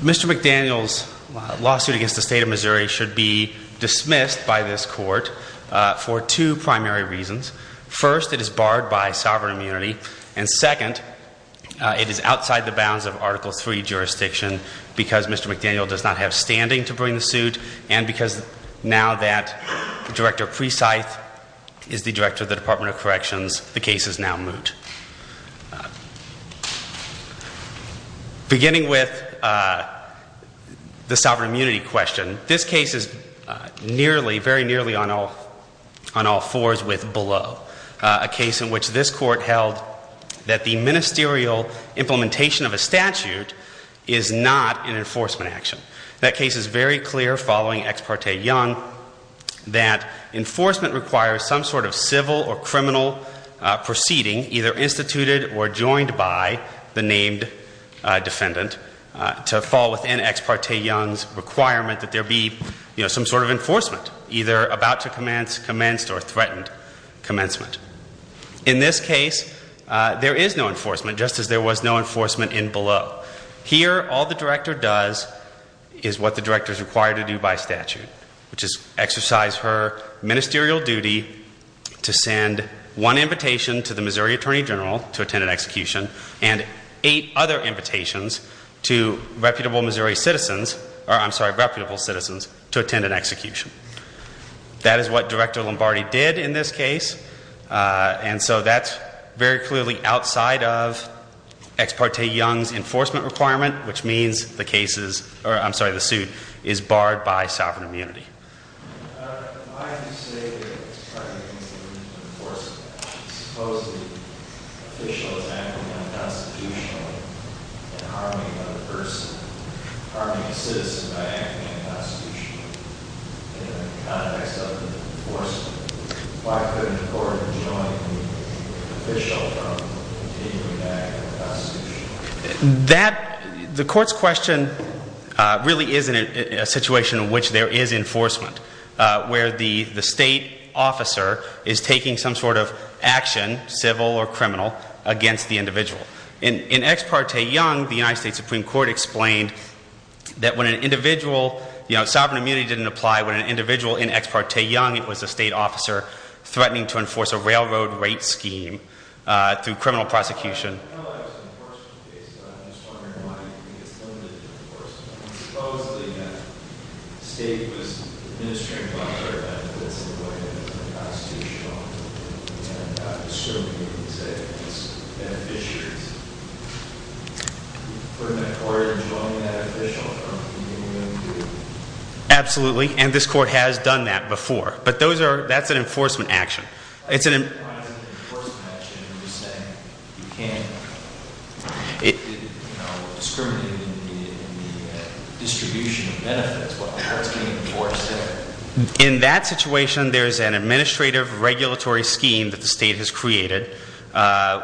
Mr. McDaniel's lawsuit against the state of Missouri should be dismissed by this court for two primary reasons. First, it is barred by sovereign immunity. And second, it is outside the bounds of Article III jurisdiction because Mr. McDaniel does not have standing to bring the suit and because now that Director Precythe is the director of the Department of Corrections, the case is now moot. Beginning with the sovereign immunity question, this case is nearly, very nearly on all fours with below. A case in which this court held that the ministerial implementation of a statute is not an enforcement action. That case is very clear following Ex parte Young that enforcement requires some sort of civil or criminal proceeding, either instituted or joined by the named defendant, to fall within Ex parte Young's requirement that there be, you know, some sort of enforcement, either about to commence, commenced, or threatened commencement. In this case, there is no enforcement, just as there was no enforcement in below. Here, all the director does is what the director is required to do by statute, which is exercise her ministerial duty to send one invitation to the Missouri Attorney General to attend an execution and eight other invitations to reputable Missouri citizens, or I'm sorry, reputable citizens, to attend an execution. That is what Director Lombardi did in this case, and so that's very clearly outside of Ex parte Young's enforcement requirement, which means the case is, or I'm sorry, the suit is barred by sovereign immunity. Why do you say that Ex parte Young is an enforceable action? Supposedly, an official is acting unconstitutionally and harming another person, harming a citizen by acting unconstitutionally in the context of enforcement. Why couldn't the court have joined the official from continuing to act unconstitutionally? The court's question really is in a situation in which there is enforcement, where the state officer is taking some sort of action, civil or criminal, against the individual. In Ex parte Young, the United States Supreme Court explained that when an individual, you know, sovereign immunity didn't apply, when an individual in Ex parte Young, it was a state officer threatening to enforce a railroad rate scheme through criminal prosecution. I know that was an enforcement case, but I just want to remind you that it's limited to enforcement. Supposedly, the state was administering welfare benefits in a way that was unconstitutional, and I'm assuming you can say it was beneficiaries. Absolutely, and this court has done that before, but that's an enforcement action. Why is it an enforcement action when you say you can't discriminate in the distribution of benefits while the court's being enforced there? In that situation, there's an administrative regulatory scheme that the state has created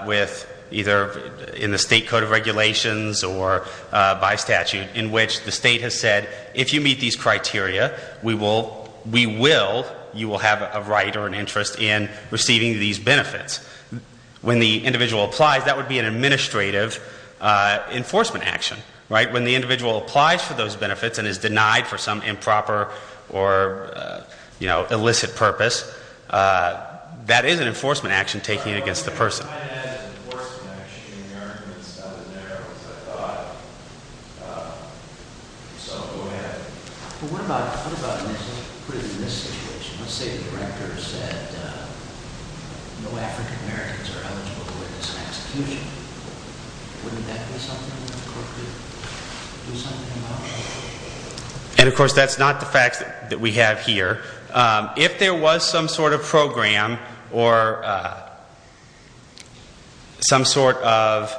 with either in the state code of regulations or by statute in which the state has said, if you meet these criteria, we will, you will have a right or an interest in receiving these benefits. When the individual applies, that would be an administrative enforcement action, right? When the individual applies for those benefits and is denied for some improper or, you know, illicit purpose, that is an enforcement action taken against the person. And of course, that's not the facts that we have here. If there was some sort of program or some sort of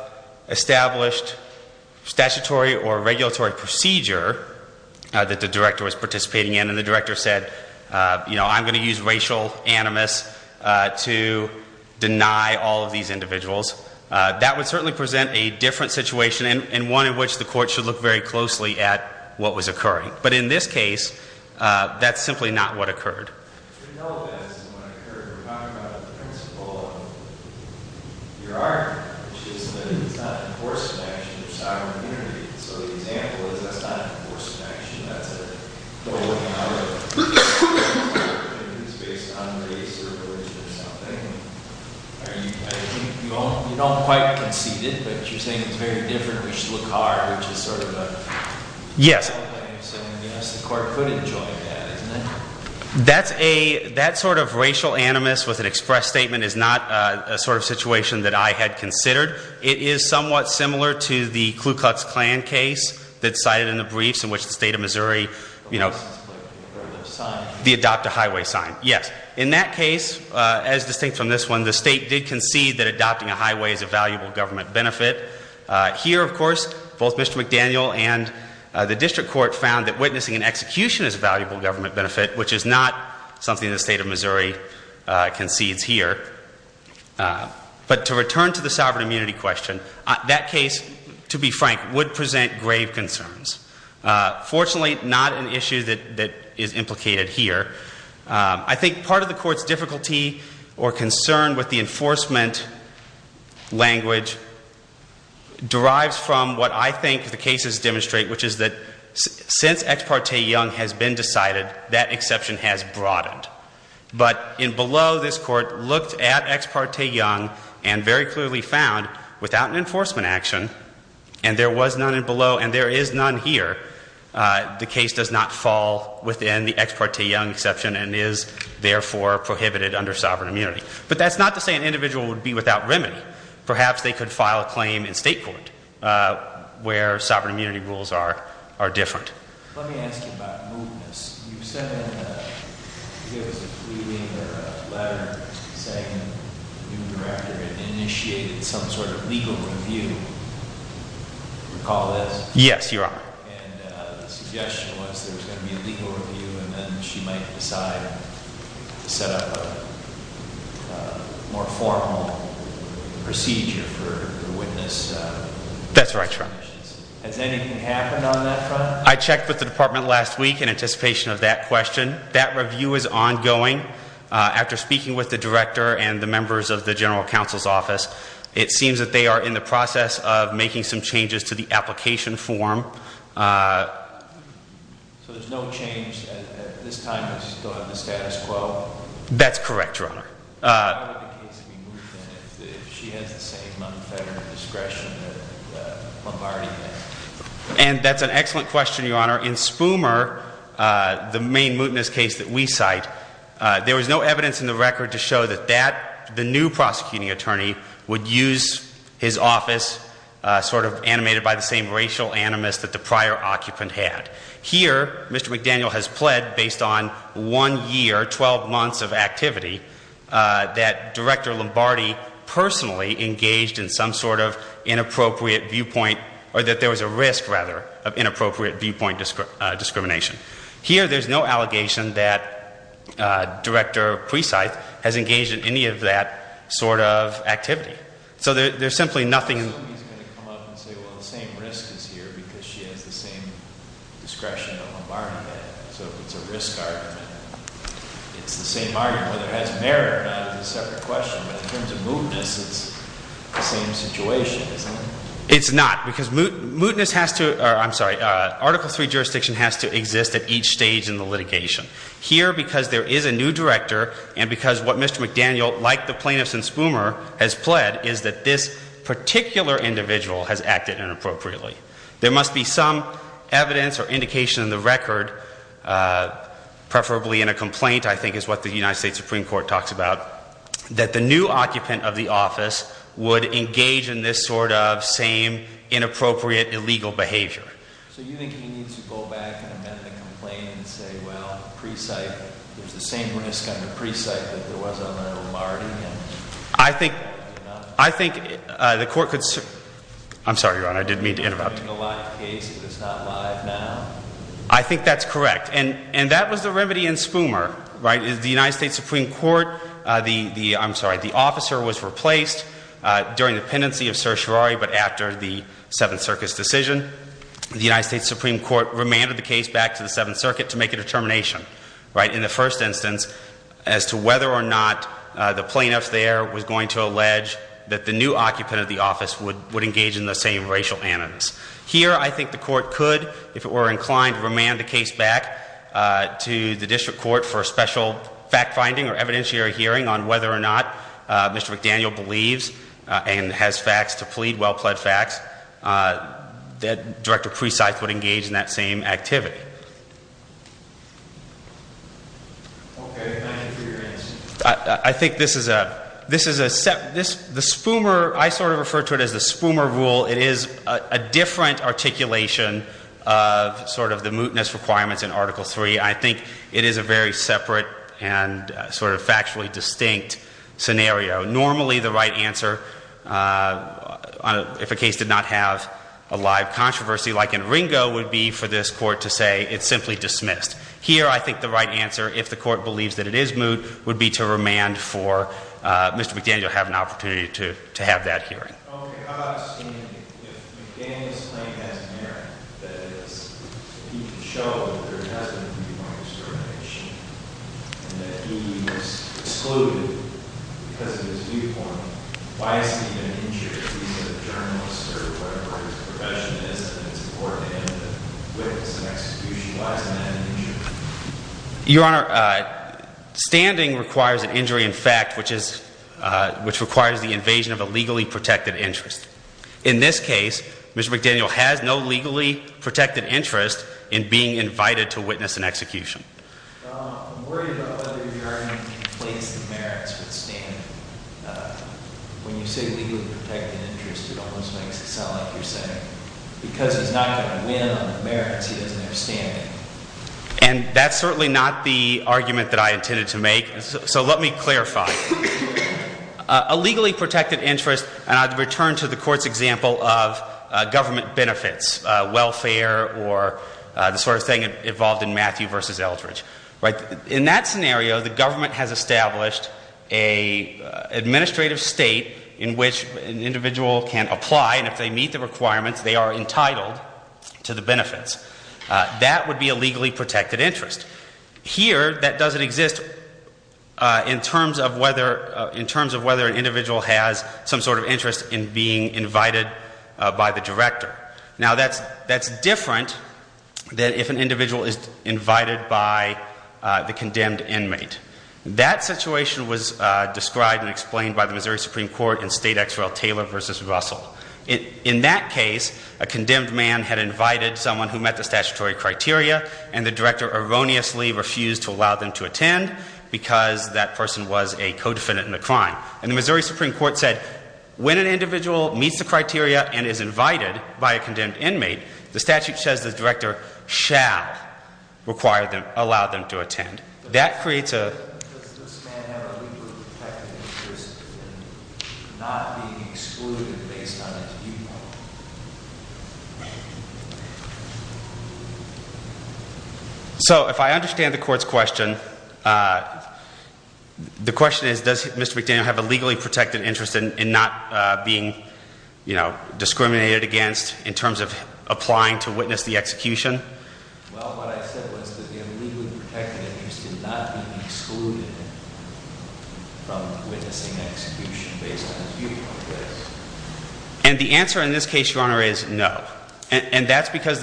established statutory or regulatory procedure that the director was participating in and the director said, you know, I'm going to use racial animus to deny all of these individuals, that would certainly present a different situation and one in which the court should look very closely at what was occurring. But in this case, that's simply not what occurred. But you know that's what occurred. You're talking about the principle of your art, which is that it's not an enforcement action. It's not an immunity. So the example is that's not an enforcement action. That's a way of looking at it. Maybe it's based on race or religion or something. I think you don't quite concede it, but you're saying it's very different and we should look hard, which is sort of a… Yes. That's a, that sort of racial animus with an express statement is not a sort of situation that I had considered. It is somewhat similar to the Ku Klux Klan case that's cited in the briefs in which the state of Missouri, you know, the adopt a highway sign. Yes. In that case, as distinct from this one, the state did concede that adopting a highway is a valuable government benefit. Here, of course, both Mr. McDaniel and the district court found that witnessing an execution is a valuable government benefit, which is not something the state of Missouri concedes here. But to return to the sovereign immunity question, that case, to be frank, would present grave concerns. Fortunately, not an issue that is implicated here. I think part of the court's difficulty or concern with the enforcement language derives from what I think the cases demonstrate, which is that since Ex parte Young has been decided, that exception has broadened. But in below, this court looked at Ex parte Young and very clearly found without an enforcement action, and there was none in below and there is none here, the case does not fall within the Ex parte Young exception and is therefore prohibited under sovereign immunity. But that's not to say an individual would be without remedy. Perhaps they could file a claim in state court where sovereign immunity rules are different. Let me ask you about mootness. You sent in, I think it was a pleading or a letter saying the new director had initiated some sort of legal review. Do you recall this? Yes, Your Honor. And the suggestion was there was going to be a legal review and then she might decide to set up a more formal procedure for the witness. That's right, Your Honor. Has anything happened on that front? I checked with the department last week in anticipation of that question. That review is ongoing. After speaking with the director and the members of the general counsel's office, it seems that they are in the process of making some changes to the application form. So there's no change at this time? It's still in the status quo? That's correct, Your Honor. How would the case be moot then if she has the same non-federal discretion that Lombardi has? And that's an excellent question, Your Honor. In Spumer, the main mootness case that we cite, there was no evidence in the record to show that the new prosecuting attorney would use his office sort of animated by the same racial animus that the prior occupant had. Here, Mr. McDaniel has pled based on one year, 12 months of activity, that Director Lombardi personally engaged in some sort of inappropriate viewpoint, or that there was a risk, rather, of inappropriate viewpoint discrimination. Here, there's no allegation that Director Preside has engaged in any of that sort of activity. So there's simply nothing. So he's going to come up and say, well, the same risk is here because she has the same discretion that Lombardi had. So if it's a risk argument, it's the same argument. Whether it has merit or not is a separate question. But in terms of mootness, it's the same situation, isn't it? It's not, because mootness has to, or I'm sorry, Article III jurisdiction has to exist at each stage in the litigation. Here, because there is a new director, and because what Mr. McDaniel, like the plaintiffs in Spumer, has pled, is that this particular individual has acted inappropriately. There must be some evidence or indication in the record, preferably in a complaint, I think is what the United States Supreme Court talks about, that the new occupant of the office would engage in this sort of same inappropriate illegal behavior. So you think he needs to go back and amend the complaint and say, well, there's the same risk under preside that there was under Lombardi? I think the court could, I'm sorry, Your Honor, I didn't mean to interrupt. It's a live case. It's not live now. I think that's correct. And that was the remedy in Spumer. The United States Supreme Court, I'm sorry, the officer was replaced during the pendency of certiorari, but after the Seventh Circuit's decision, the United States Supreme Court remanded the case back to the Seventh Circuit to make a determination. In the first instance, as to whether or not the plaintiff there was going to allege that the new occupant of the office would engage in the same racial animus. Here, I think the court could, if it were inclined, remand the case back to the district court for a special fact-finding or evidentiary hearing on whether or not Mr. McDaniel believes and has facts to plead, well-pled facts, that Director Preside would engage in that same activity. Okay. Thank you for your answer. I think this is a, this is a, the Spumer, I sort of refer to it as the Spumer rule. It is a different articulation of sort of the mootness requirements in Article III. I think it is a very separate and sort of factually distinct scenario. Normally, the right answer, if a case did not have a live controversy like in Ringo, would be for this court to say, it's simply dismissed. Here, I think the right answer, if the court believes that it is moot, would be to remand for Mr. McDaniel to have an opportunity to have that hearing. Okay. How about standing? If McDaniel's claim has merit, that is, he can show that there has been a viewpoint of discrimination, and that he was excluded because of his viewpoint, why isn't he an injury? He's a journalist or whatever his profession is, and it's important to him to witness an execution. Why isn't that an injury? Your Honor, standing requires an injury in fact, which is, which requires the invasion of a legally protected interest. In this case, Mr. McDaniel has no legally protected interest in being invited to witness an execution. I'm worried about whether your argument conflates the merits with standing. When you say legally protected interest, it almost makes it sound like you're saying, because he's not going to win on the merits, he doesn't have standing. And that's certainly not the argument that I intended to make. So let me clarify. A legally protected interest, and I'd return to the Court's example of government benefits, welfare or the sort of thing involved in Matthew v. Eldridge. In that scenario, the government has established an administrative state in which an individual can apply, and if they meet the requirements, they are entitled to the benefits. That would be a legally protected interest. Here, that doesn't exist in terms of whether an individual has some sort of interest in being invited by the director. Now that's different than if an individual is invited by the condemned inmate. That situation was described and explained by the Missouri Supreme Court in State X. Royal Taylor v. Russell. In that case, a condemned man had invited someone who met the statutory criteria, and the director erroneously refused to allow them to attend because that person was a co-defendant in the crime. And the Missouri Supreme Court said, when an individual meets the criteria and is invited by a condemned inmate, the statute says the director shall allow them to attend. Does this man have a legally protected interest in not being excluded based on his viewpoint? So if I understand the court's question, the question is, does Mr. McDaniel have a legally protected interest in not being discriminated against in terms of applying to witness the execution? Well, what I said was that the illegally protected interest did not mean excluded from witnessing execution based on his viewpoint. And the answer in this case, Your Honor, is no. And that's because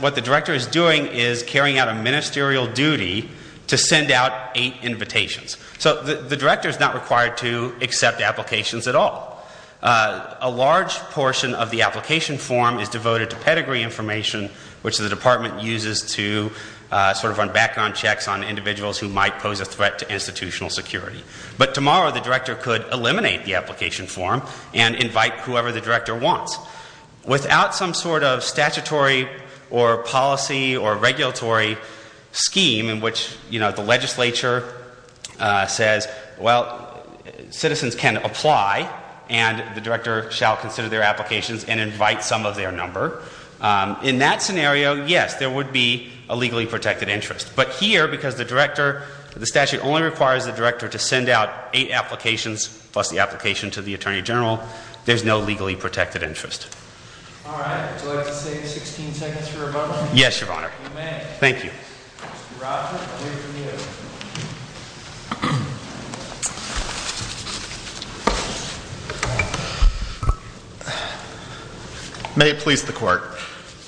what the director is doing is carrying out a ministerial duty to send out eight invitations. So the director is not required to accept applications at all. A large portion of the application form is devoted to pedigree information, which the department uses to sort of run background checks on individuals who might pose a threat to institutional security. But tomorrow, the director could eliminate the application form and invite whoever the director wants. Without some sort of statutory or policy or regulatory scheme in which, you know, the legislature says, well, citizens can apply and the director shall consider their applications and invite some of their number. In that scenario, yes, there would be a legally protected interest. But here, because the director, the statute only requires the director to send out eight applications plus the application to the attorney general, there's no legally protected interest. All right. Would you like to save 16 seconds for rebuttal? Yes, Your Honor. You may. Thank you. Mr. Robinson, over to you. May it please the Court.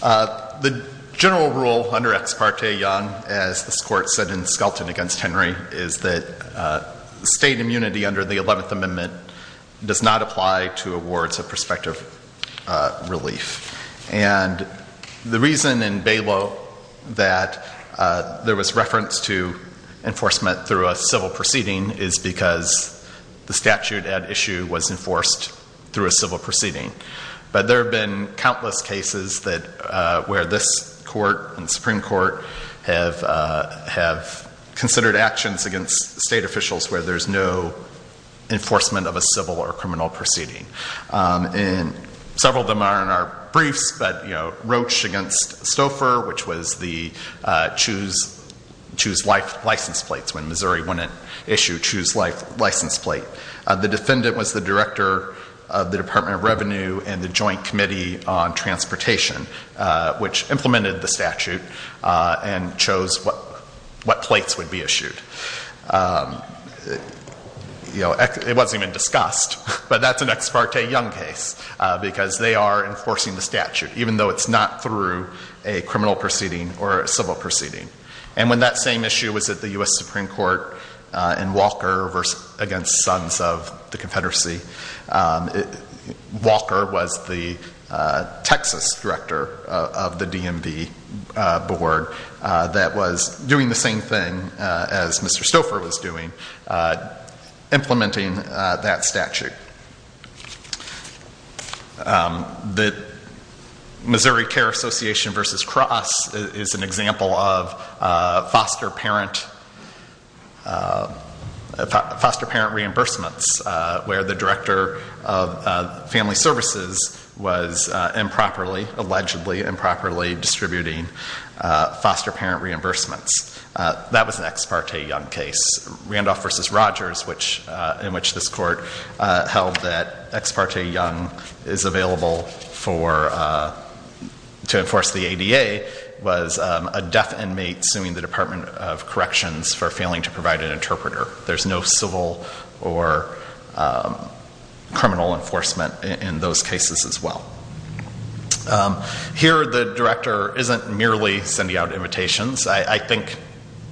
The general rule under Ex parte Young, as this Court said in Skelton against Henry, is that state immunity under the 11th Amendment does not apply to awards of prospective relief. And the reason in bailout that there was reference to enforcement through a civil proceeding is because the statute at issue was enforced through a civil proceeding. But there have been countless cases where this Court and the Supreme Court have considered actions against state officials where there's no enforcement of a civil or criminal proceeding. And several of them are in our briefs, but, you know, Roche against Stouffer, which was the choose life license plates when Missouri wouldn't issue choose life license plate. The defendant was the director of the Department of Revenue and the Joint Committee on Transportation, which implemented the statute and chose what plates would be issued. You know, it wasn't even discussed, but that's an Ex parte Young case because they are enforcing the statute, even though it's not through a criminal proceeding or a civil proceeding. And when that same issue was at the U.S. Supreme Court in Walker against Sons of the Confederacy, Walker was the Texas director of the DMV board that was doing the same thing as Mr. Stouffer was doing, implementing that statute. The Missouri Care Association versus Cross is an example of foster parent reimbursements, where the director of family services was improperly, allegedly improperly, distributing foster parent reimbursements. That was an Ex parte Young case. Randolph versus Rogers, in which this court held that Ex parte Young is available to enforce the ADA, was a deaf inmate suing the Department of Corrections for failing to provide an interpreter. There's no civil or criminal enforcement in those cases as well. Here, the director isn't merely sending out invitations. I think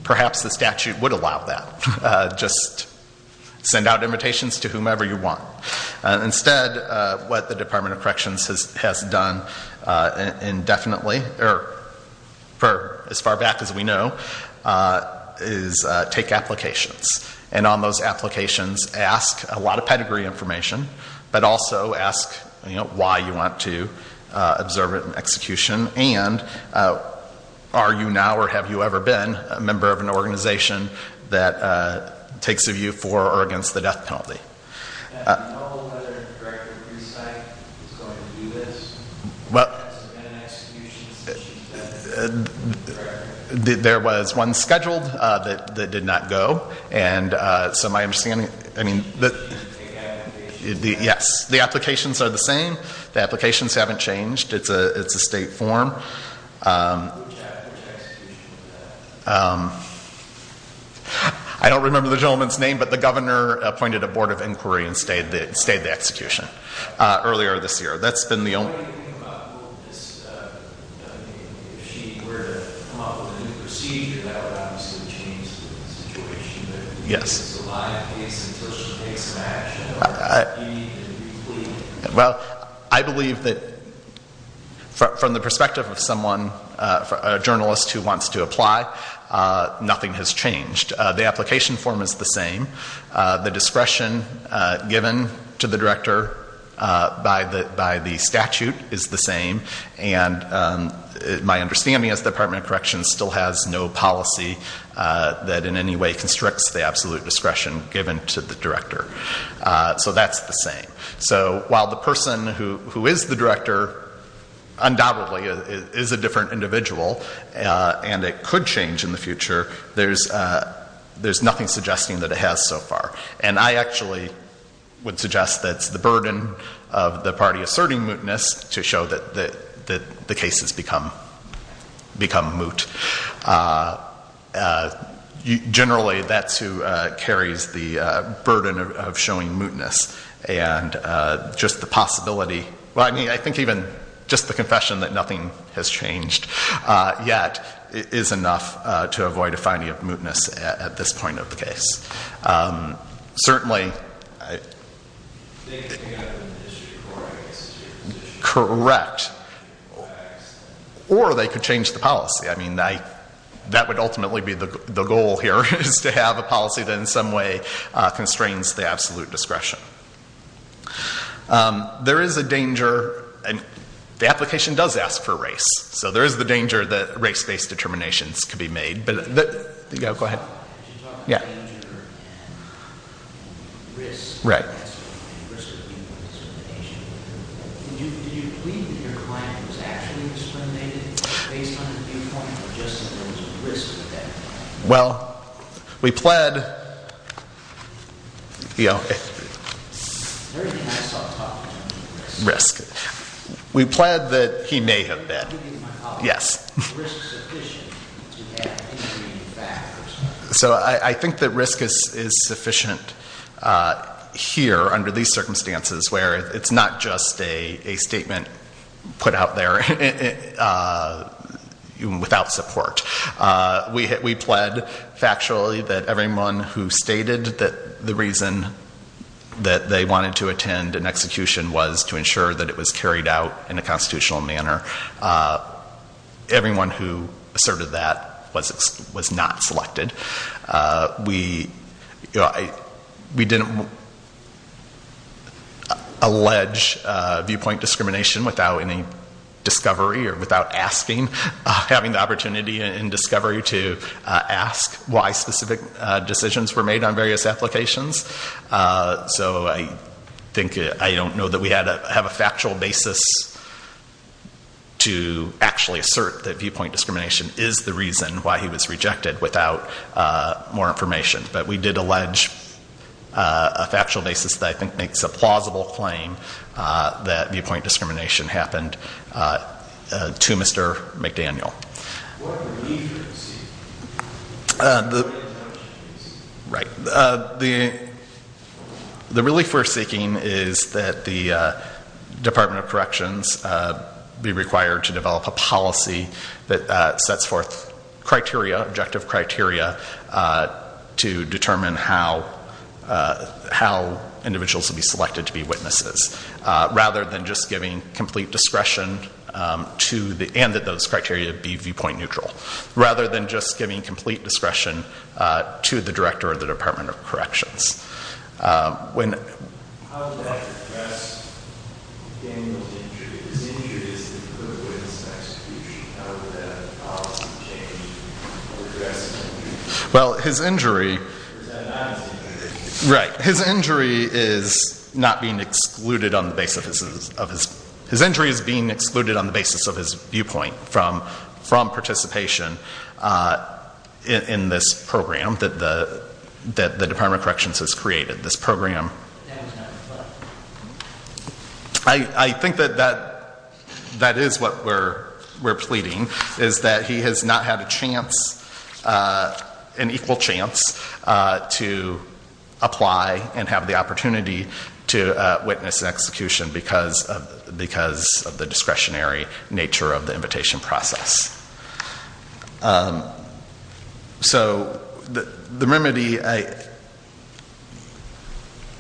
perhaps the statute would allow that. Just send out invitations to whomever you want. Instead, what the Department of Corrections has done indefinitely, or as far back as we know, is take applications. And on those applications, ask a lot of pedigree information, but also ask why you want to observe it in execution, and are you now or have you ever been a member of an organization that takes a view for or against the death penalty. I don't know whether the Director of Precinct is going to do this. It's been an execution since she's been the Director. There was one scheduled that did not go. So my understanding is that the applications are the same. The applications haven't changed. It's a state form. I don't remember the gentleman's name, but the Governor appointed a Board of Inquiry and stayed the execution earlier this year. That's been the only... Yes. Well, I believe that from the perspective of someone, a journalist who wants to apply, nothing has changed. The application form is the same. The discretion given to the Director by the statute is the same. And my understanding is the Department of Corrections still has no policy that in any way constricts the absolute discretion given to the Director. So that's the same. So while the person who is the Director undoubtedly is a different individual and it could change in the future, there's nothing suggesting that it has so far. And I actually would suggest that it's the burden of the party asserting mootness to show that the case has become moot. Generally, that's who carries the burden of showing mootness. And just the possibility, well, I mean, I think even just the confession that nothing has changed yet is enough to avoid a finding of mootness at this point of the case. Certainly... Correct. Or they could change the policy. I mean, that would ultimately be the goal here is to have a policy that in some way constrains the absolute discretion. There is a danger. The application does ask for race. So there is the danger that race-based determinations could be made. Yeah, go ahead. Yeah. Right. Well, we pled... Risk. We pled that he may have been. Yes. So I think the risk is sufficient here under these circumstances where it's not just a statement put out there without support. We pled factually that everyone who stated that the reason that they wanted to attend an execution was to ensure that it was carried out in a constitutional manner. Everyone who asserted that was not selected. We didn't allege viewpoint discrimination without any discovery or without asking, having the opportunity in discovery to ask why specific decisions were made on various applications. So I think... I don't know that we have a factual basis to actually assert that viewpoint discrimination is the reason why he was rejected without more information. But we did allege a factual basis that I think makes a plausible claim that viewpoint discrimination happened to Mr. McDaniel. Right. The relief we're seeking is that the Department of Corrections be required to develop a policy that sets forth criteria, objective criteria, to determine how individuals will be selected to be witnesses. Rather than just giving complete discretion and that those criteria be viewpoint neutral. Rather than just giving complete discretion to the Director of the Department of Corrections. Well, his injury... Right. His injury is not being excluded on the basis of his... His injury is being excluded on the basis of his viewpoint from participation in this program that the Department of Corrections has created. This program... I think that that is what we're pleading, is that he has not had a chance, an equal chance, to apply and have the opportunity to witness an execution because of the discretionary nature of the invitation process. So, the remedy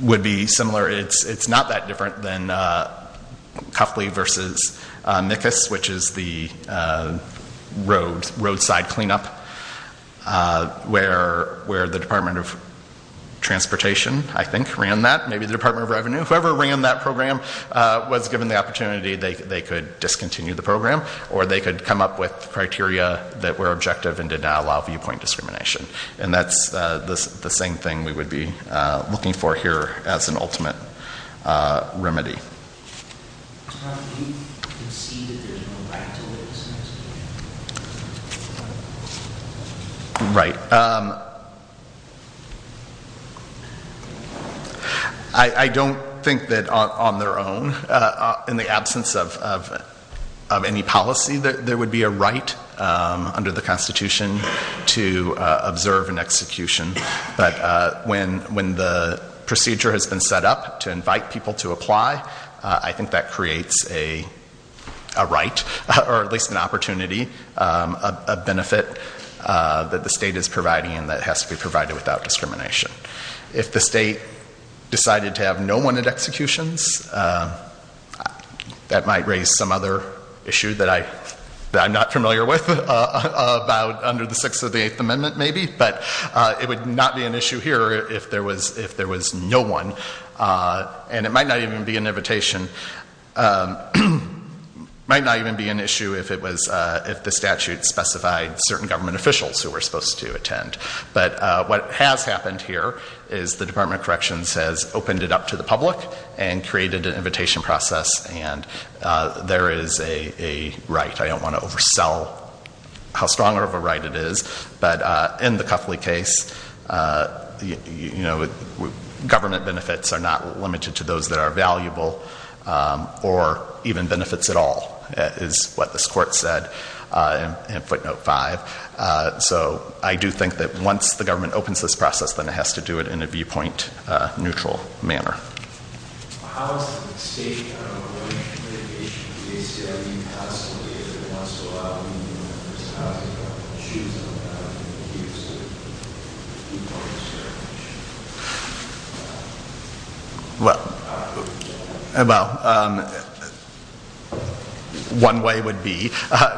would be similar. It's not that different than Cuffley v. Nickus, which is the roadside cleanup where the Department of Transportation, I think, ran that. Whoever ran that program was given the opportunity. They could discontinue the program or they could come up with criteria that were objective and did not allow viewpoint discrimination. And that's the same thing we would be looking for here as an ultimate remedy. Right. I don't think that on their own, in the absence of any policy, that there would be a right under the Constitution to observe an execution. But when the procedure has been set up to invite people to apply, I think that creates a right, or at least an opportunity, a benefit that the state is providing and that has to be provided without discrimination. If the state decided to have no one at executions, that might raise some other issue that I'm not familiar with about under the Sixth of the Eighth Amendment, maybe. But it would not be an issue here if there was no one. And it might not even be an invitation, might not even be an issue if the statute specified certain government officials who were supposed to attend. But what has happened here is the Department of Corrections has opened it up to the public and created an invitation process. And there is a right. I don't want to oversell how strong of a right it is. But in the Cuffley case, government benefits are not limited to those that are valuable or even benefits at all, is what this Court said in Footnote 5. So I do think that once the government opens this process, then it has to do it in a viewpoint-neutral manner. How is the state covering litigation with the ACLU constantly? If it wants to allow new members of Congress to go out and choose them, how do you make use of people who serve? Well, one way would be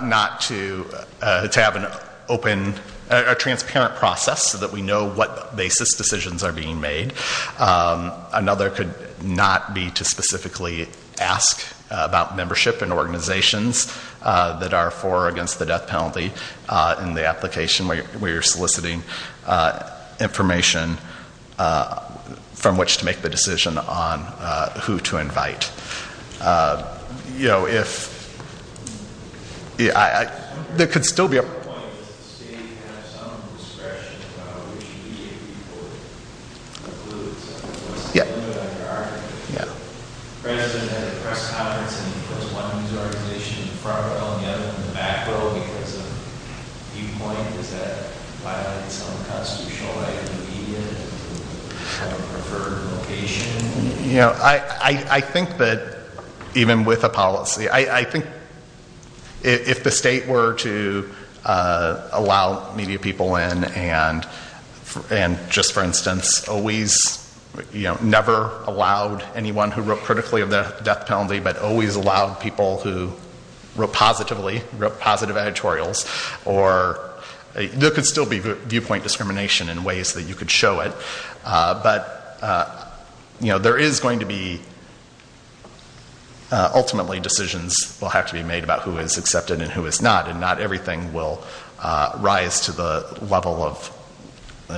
not to have an open or transparent process so that we know what basis decisions are being made. Another could not be to specifically ask about membership in organizations that are for or against the death penalty in the application where you're soliciting information from which to make the decision on who to invite. Another point, does the state have some discretion about which media people to include? President had a press conference and he put one news organization in front of it while the other in the back row because of viewpoint. Is that violating some constitutional right of the media to have a preferred location? I think that even with a policy, I think if the state were to allow media people in and just for instance, never allowed anyone who wrote critically of the death penalty but always allowed people who wrote positively, wrote positive editorials, there could still be viewpoint discrimination in ways that you could show it. But there is going to be ultimately decisions will have to be made about who is accepted and who is not and not everything will rise to the level of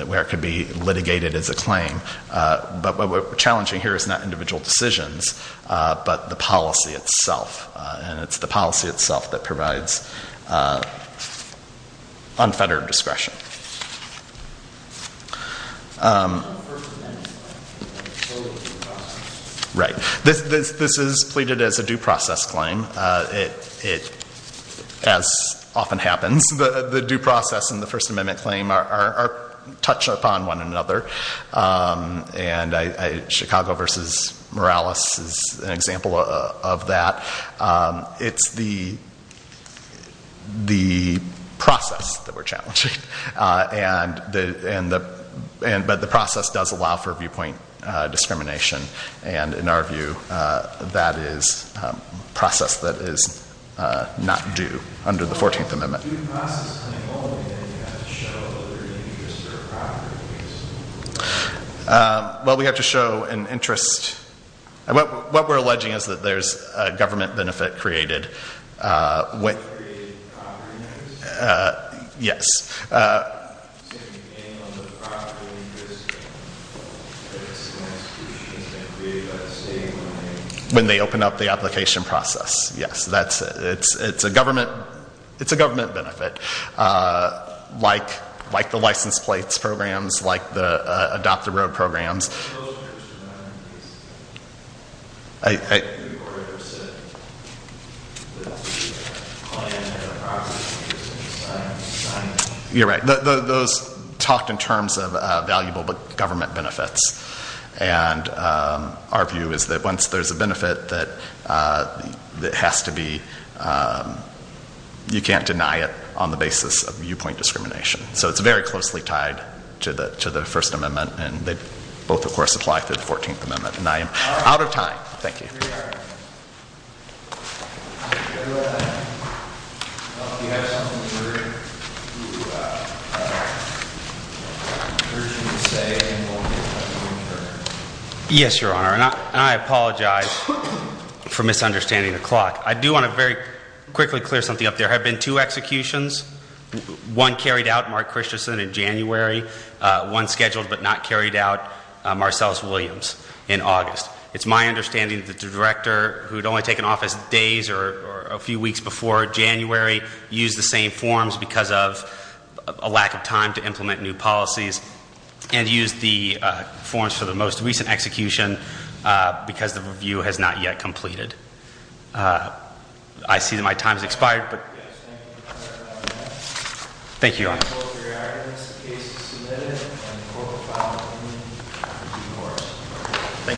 where it could be litigated as a claim. But what we're challenging here is not individual decisions but the policy itself and it's the policy itself that provides unfettered discretion. This is pleaded as a due process claim. As often happens, the due process and the First Amendment claim are touched upon one another. Chicago v. Morales is an example of that. It's the process that we're challenging. But the process does allow for viewpoint discrimination and in our view, that is a process that is not due under the 14th Amendment. Well, we have to show an interest. What we're alleging is that there's a government benefit created. Yes. When they open up the application process. It's a government benefit. Like the license plates programs, like the Adopt-the-Road programs. Those talked in terms of valuable government benefits. And our view is that once there's a benefit that has to be, you can't deny it on the basis of viewpoint discrimination. So it's very closely tied to the First Amendment and they both, of course, apply to the 14th Amendment. And I am out of time. Thank you. Yes, Your Honor. And I apologize for misunderstanding the clock. I do want to very quickly clear something up. There have been two executions. One carried out, Mark Christensen, in January. One scheduled but not carried out, Marcellus Williams, in August. It's my understanding that the director, who had only taken office days or a few weeks before January, used the same forms because of a lack of time to implement new policies, and used the forms for the most recent execution because the review has not yet completed. I see that my time has expired. Thank you, Your Honor.